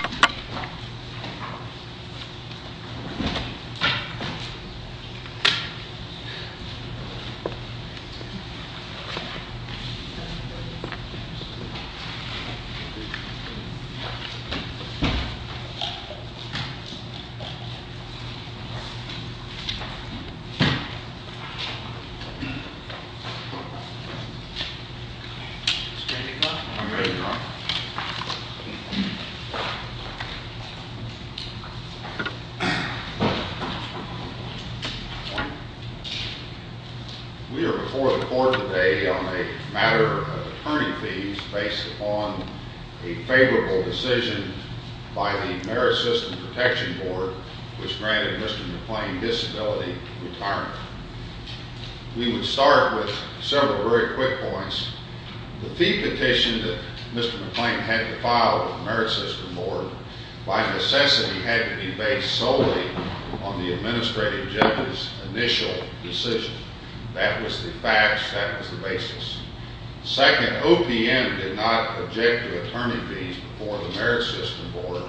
2016 You've got to go and see a man named Matt Yeah We are before the court today on a matter of attorney fees based upon a favorable decision by the Merit System Protection Board which granted Mr. McClain disability retirement. We would start with several very quick points. The fee petition that Mr. McClain had to by necessity had to be based solely on the administrative judge's initial decision. That was the facts. That was the basis. Second, OPM did not object to attorney fees before the Merit System Board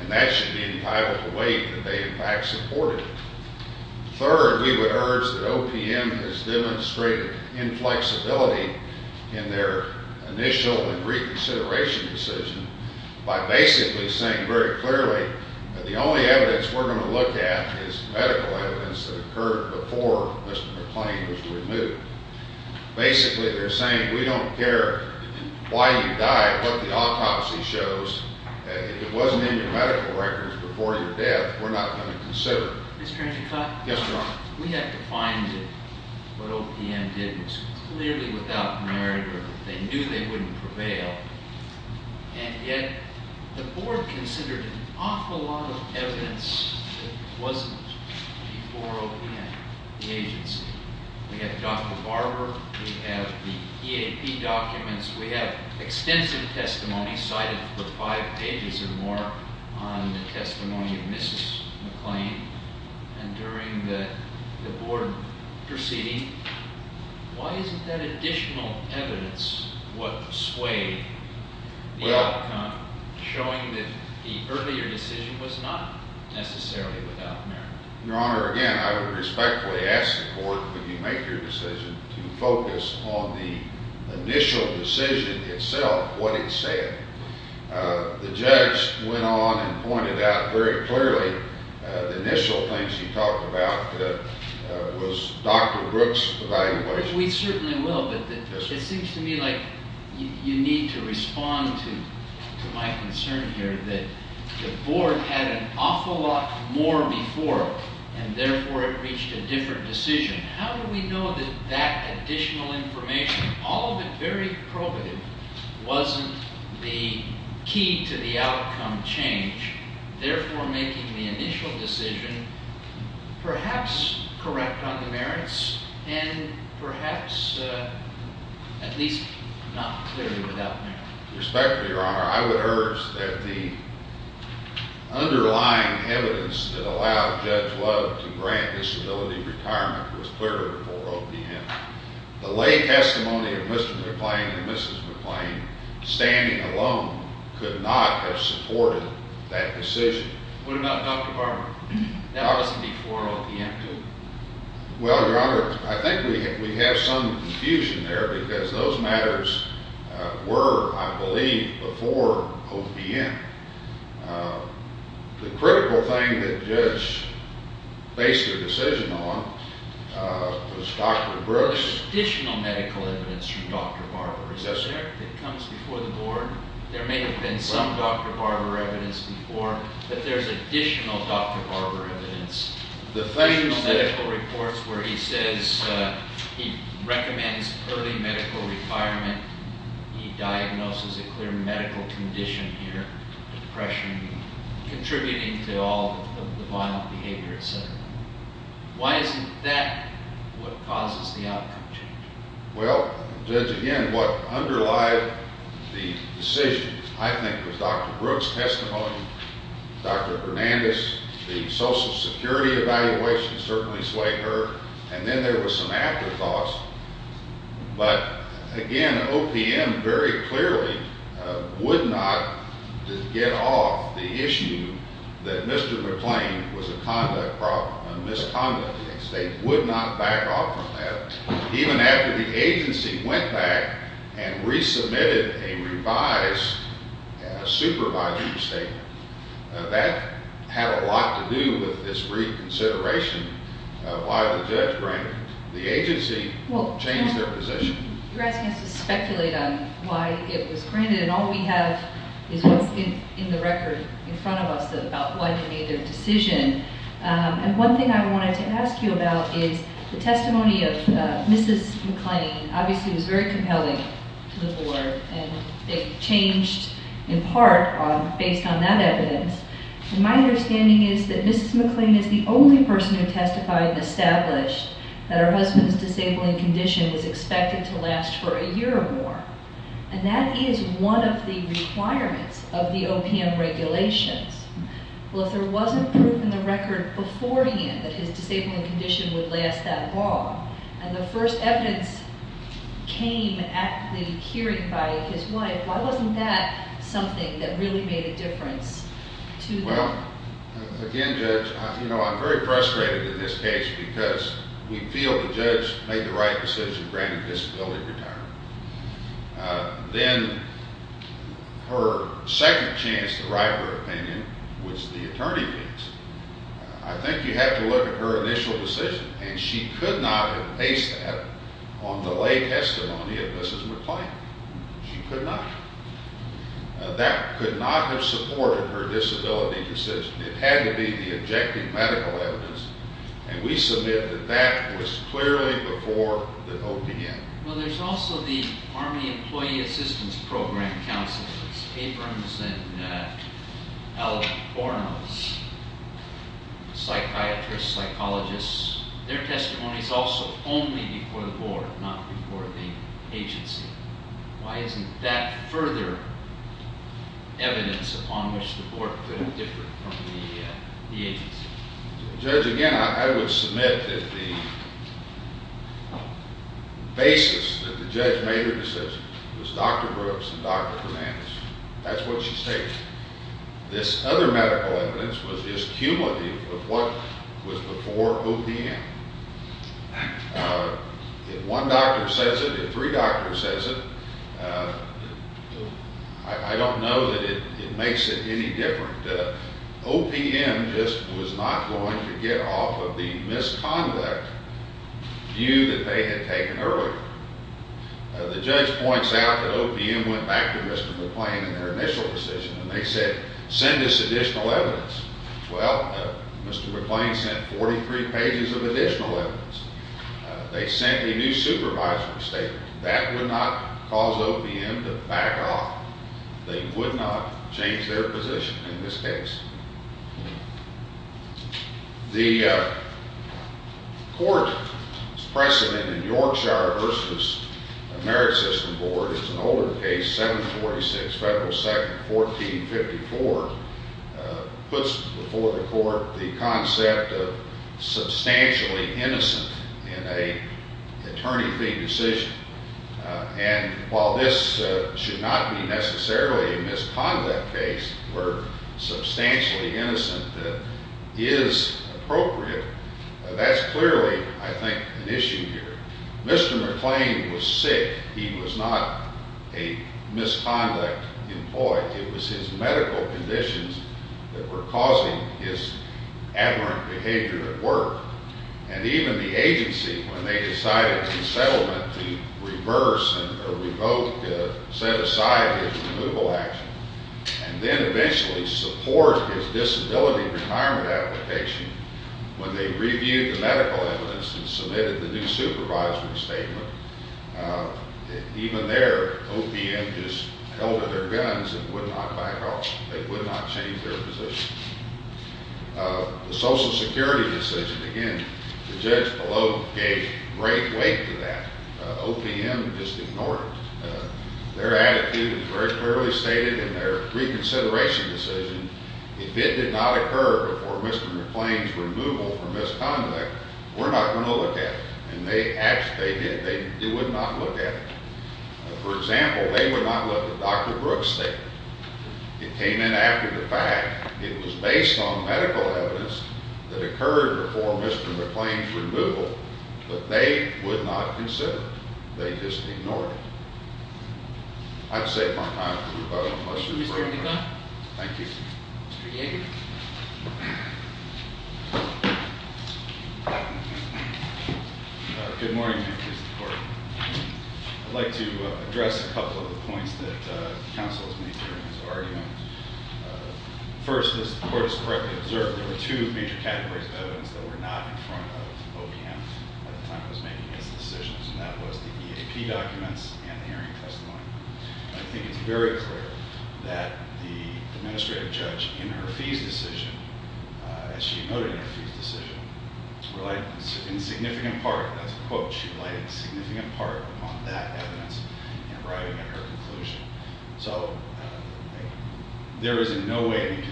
and that should be entitled to wait that they in fact supported it. Third, we would urge that OPM has demonstrated inflexibility in their initial and reconsideration decision by basically saying very clearly that the only evidence we're going to look at is medical evidence that occurred before Mr. McClain was removed. Basically they're saying we don't care why you die what the autopsy shows and if it wasn't in your medical records before your death we're not going to consider it. We have to find it what OPM did was clearly without merit or they knew they wouldn't prevail and yet the board considered an awful lot of evidence that wasn't before OPM, the agency. We have Dr. Barber, we have the EAP documents, we have extensive testimony cited for five pages or more on the testimony of Mrs. McClain and during the board proceeding why isn't that additional evidence what swayed the outcome showing that the earlier decision was not necessarily without merit? Your honor again I would respectfully ask the court when you make your decision to focus on the initial decision itself what it said. The judge went on and we certainly will but it seems to me like you need to respond to my concern here that the board had an awful lot more before and therefore it reached a different decision. How do we know that that additional information all of it very probative wasn't the key to the perhaps at least not clearly without merit? Respectfully your honor I would urge that the underlying evidence that allowed Judge Love to grant disability retirement was clearer before OPM. The lay testimony of Mr. McClain and Mrs. McClain standing alone could not have supported that decision. What about Dr. Barber? That wasn't before OPM too? Well your honor I think we have some confusion there because those matters were I believe before OPM. The critical thing that judge based their decision on was Dr. Brooks. Additional medical evidence from Dr. Barber that comes before the board. There may have been some Dr. Barber evidence before but there's additional Dr. Barber evidence. The medical reports where he says he recommends early medical requirement. He diagnoses a clear medical condition here depression contributing to all the violent decisions. I think with Dr. Brooks testimony Dr. Hernandez the social security evaluation certainly swayed her and then there was some afterthoughts but again OPM very clearly would not get off the issue that Mr. McClain was a conduct problem and misconduct against. They would not back off from that even after the agency went back and resubmitted a revised supervisory statement. That had a lot to do with this reconsideration of why the judge granted the agency changed their position. You're asking us to speculate on why it was granted and all we have is what's in the record in front of us about why they made a decision and one thing I wanted to ask you about is the testimony of Mrs. McClain obviously was very compelling to the board and it changed in part based on that evidence. My understanding is that Mrs. McClain is the only person who testified and established that her husband's disabling condition was expected to last for a year or more and that is one of the requirements of the OPM regulations. Well if there wasn't proof in the record before hand that his disabling condition would last that long and the first evidence came at the hearing by his wife why wasn't that something that really made a difference? Well again judge you know I'm very frustrated in this case because we feel the judge made the right decision granting disability retirement. Then her second chance to write her opinion was the attorney. I think you have to look at her initial decision and she could not have based that on the lay testimony of Mrs. McClain. She could not. That could not have supported her disability decision. It had to be the objective medical evidence and we submit that that was clearly before the OPM. Well there's also the Army Employee Assistance Program counsels Abrams and Albornoz, psychiatrists, psychologists their testimony is also only before the board not before the agency. Why isn't that further evidence upon which the board could have differed from the agency? Judge again I would submit that the basis that the judge made her decision was Dr. Brooks and Dr. Hernandez. That's what she stated. This other medical evidence was this cumulative of what was before OPM. If one doctor says it, if three doctors says it I don't know that it makes it any different. OPM just was not going to get off of the misconduct view that they had taken earlier. The judge points out that OPM went back to Mr. McClain in their initial decision and they said send us additional evidence. Well Mr. McClain sent 43 pages of additional evidence. They sent a new supervisory statement. That would not cause OPM to back off. They would not change their position in this case. The court's precedent in Yorkshire versus the Merit System Board is an older case 746 federal section 1454 puts before the court the concept of substantially innocent in an attorney fee decision. And while this should not be necessarily a misconduct case where substantially innocent that is appropriate, that's clearly I think an issue here. Mr. McClain was sick. He was not a misconduct employee. It was his medical conditions that were causing his adverent behavior at work. And even the agency when they decided in settlement to reverse and or revoke set aside his removal action and then eventually support his disability retirement application when they reviewed the medical evidence and submitted the new supervisory statement even there OPM just held to their guns and would not back off. They would not change their position. The social security decision again the judge below gave great weight to that. OPM just ignored their attitude and very clearly stated in their reconsideration decision if it did not occur before Mr. McClain's removal from misconduct we're not going to look at it. And they actually did. They would not look at it. For example they would not let the Dr. Brooks statement. It came in after the fact. It was based on medical evidence that occurred before Mr. McClain's removal but they would not consider it. They just ignored it. I've saved my time. Thank you. Good morning Mr. Court. I'd like to address a couple of the points that counsel has made during this argument. First as the court has correctly observed there were two major categories of OPM at the time it was making its decisions and that was the EAP documents and the hearing testimony. I think it's very clear that the administrative judge in her fees decision as she noted in her fees decision relied in significant part that's a quote she relied significant part upon that evidence in arriving at her conclusion. So there is in no way any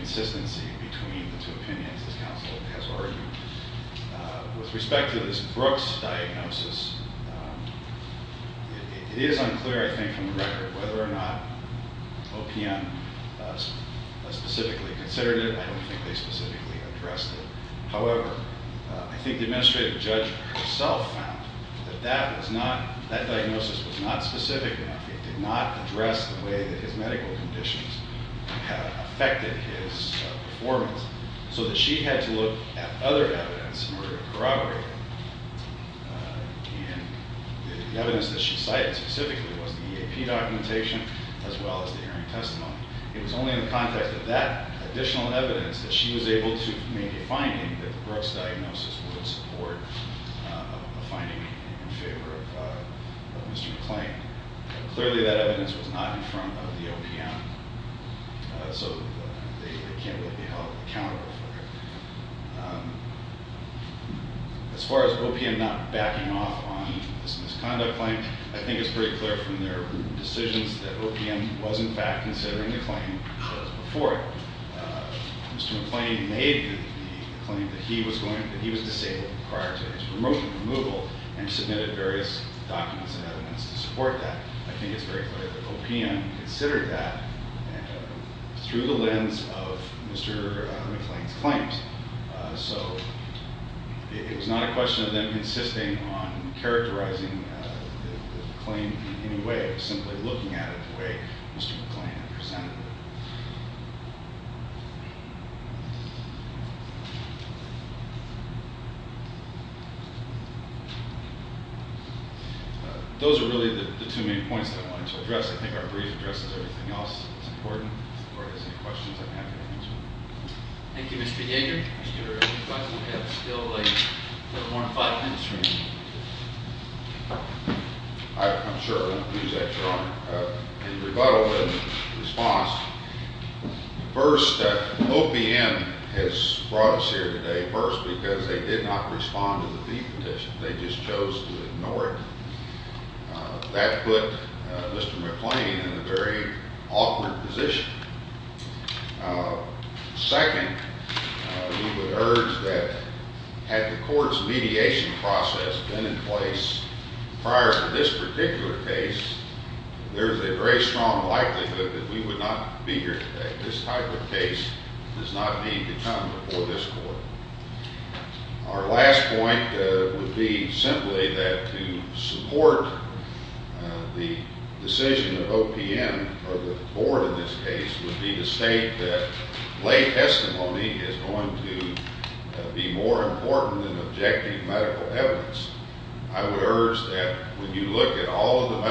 Brooks diagnosis. It is unclear I think from the record whether or not OPM specifically considered it. I don't think they specifically addressed it. However I think the administrative judge herself found that that was not that diagnosis was not specific enough. It did not address the way that his medical conditions have affected his performance so that she had to look at other evidence in order to corroborate it. And the evidence that she cited specifically was the EAP documentation as well as the hearing testimony. It was only in the context of that additional evidence that she was able to make a finding that the Brooks diagnosis would support a finding in favor of Mr. McClain. Clearly that evidence was not in front of the OPM so they can't really be held accountable for it. As far as OPM not backing off on this misconduct claim I think it's pretty clear from their decisions that OPM was in fact considering the claim before it. Mr. McClain made the claim that he was going that he was disabled prior to his removal and submitted various documents and and through the lens of Mr. McClain's claims. So it was not a question of them insisting on characterizing the claim in any way. It was simply looking at it the way Mr. McClain had presented it. Those are really the two main points that I wanted to address. I think our brief addresses everything else that's important or if there's any questions I'm happy to answer. Thank you Mr. Yeager. Mr. Weisman we have still a little more than five minutes remaining. I'm sure I won't use that your honor. In rebuttal and response first OPM has brought us here today first because they did not respond to the fee petition. They just chose to ignore it. That put Mr. McClain in a very awkward position. Second we would urge that had the court's mediation process been in place prior to this particular case there's a very strong likelihood that we would not be here today. This type of case does not need to come before this court. Our last point would be simply that to support the decision of OPM or the board in this case would be to state that lay testimony is going to be more important than objective medical evidence. I would urge that when you look at all of the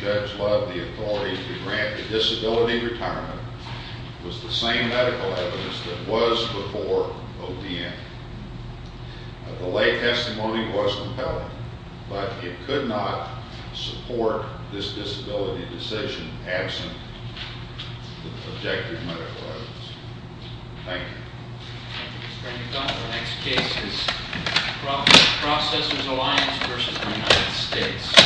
judge loved the authority to grant the disability retirement was the same medical evidence that was before OPM. The lay testimony was compelling but it could not support this disability decision absent objective medical evidence. Thank you. Mr. McDonnell next case is Processors Alliance versus the United States.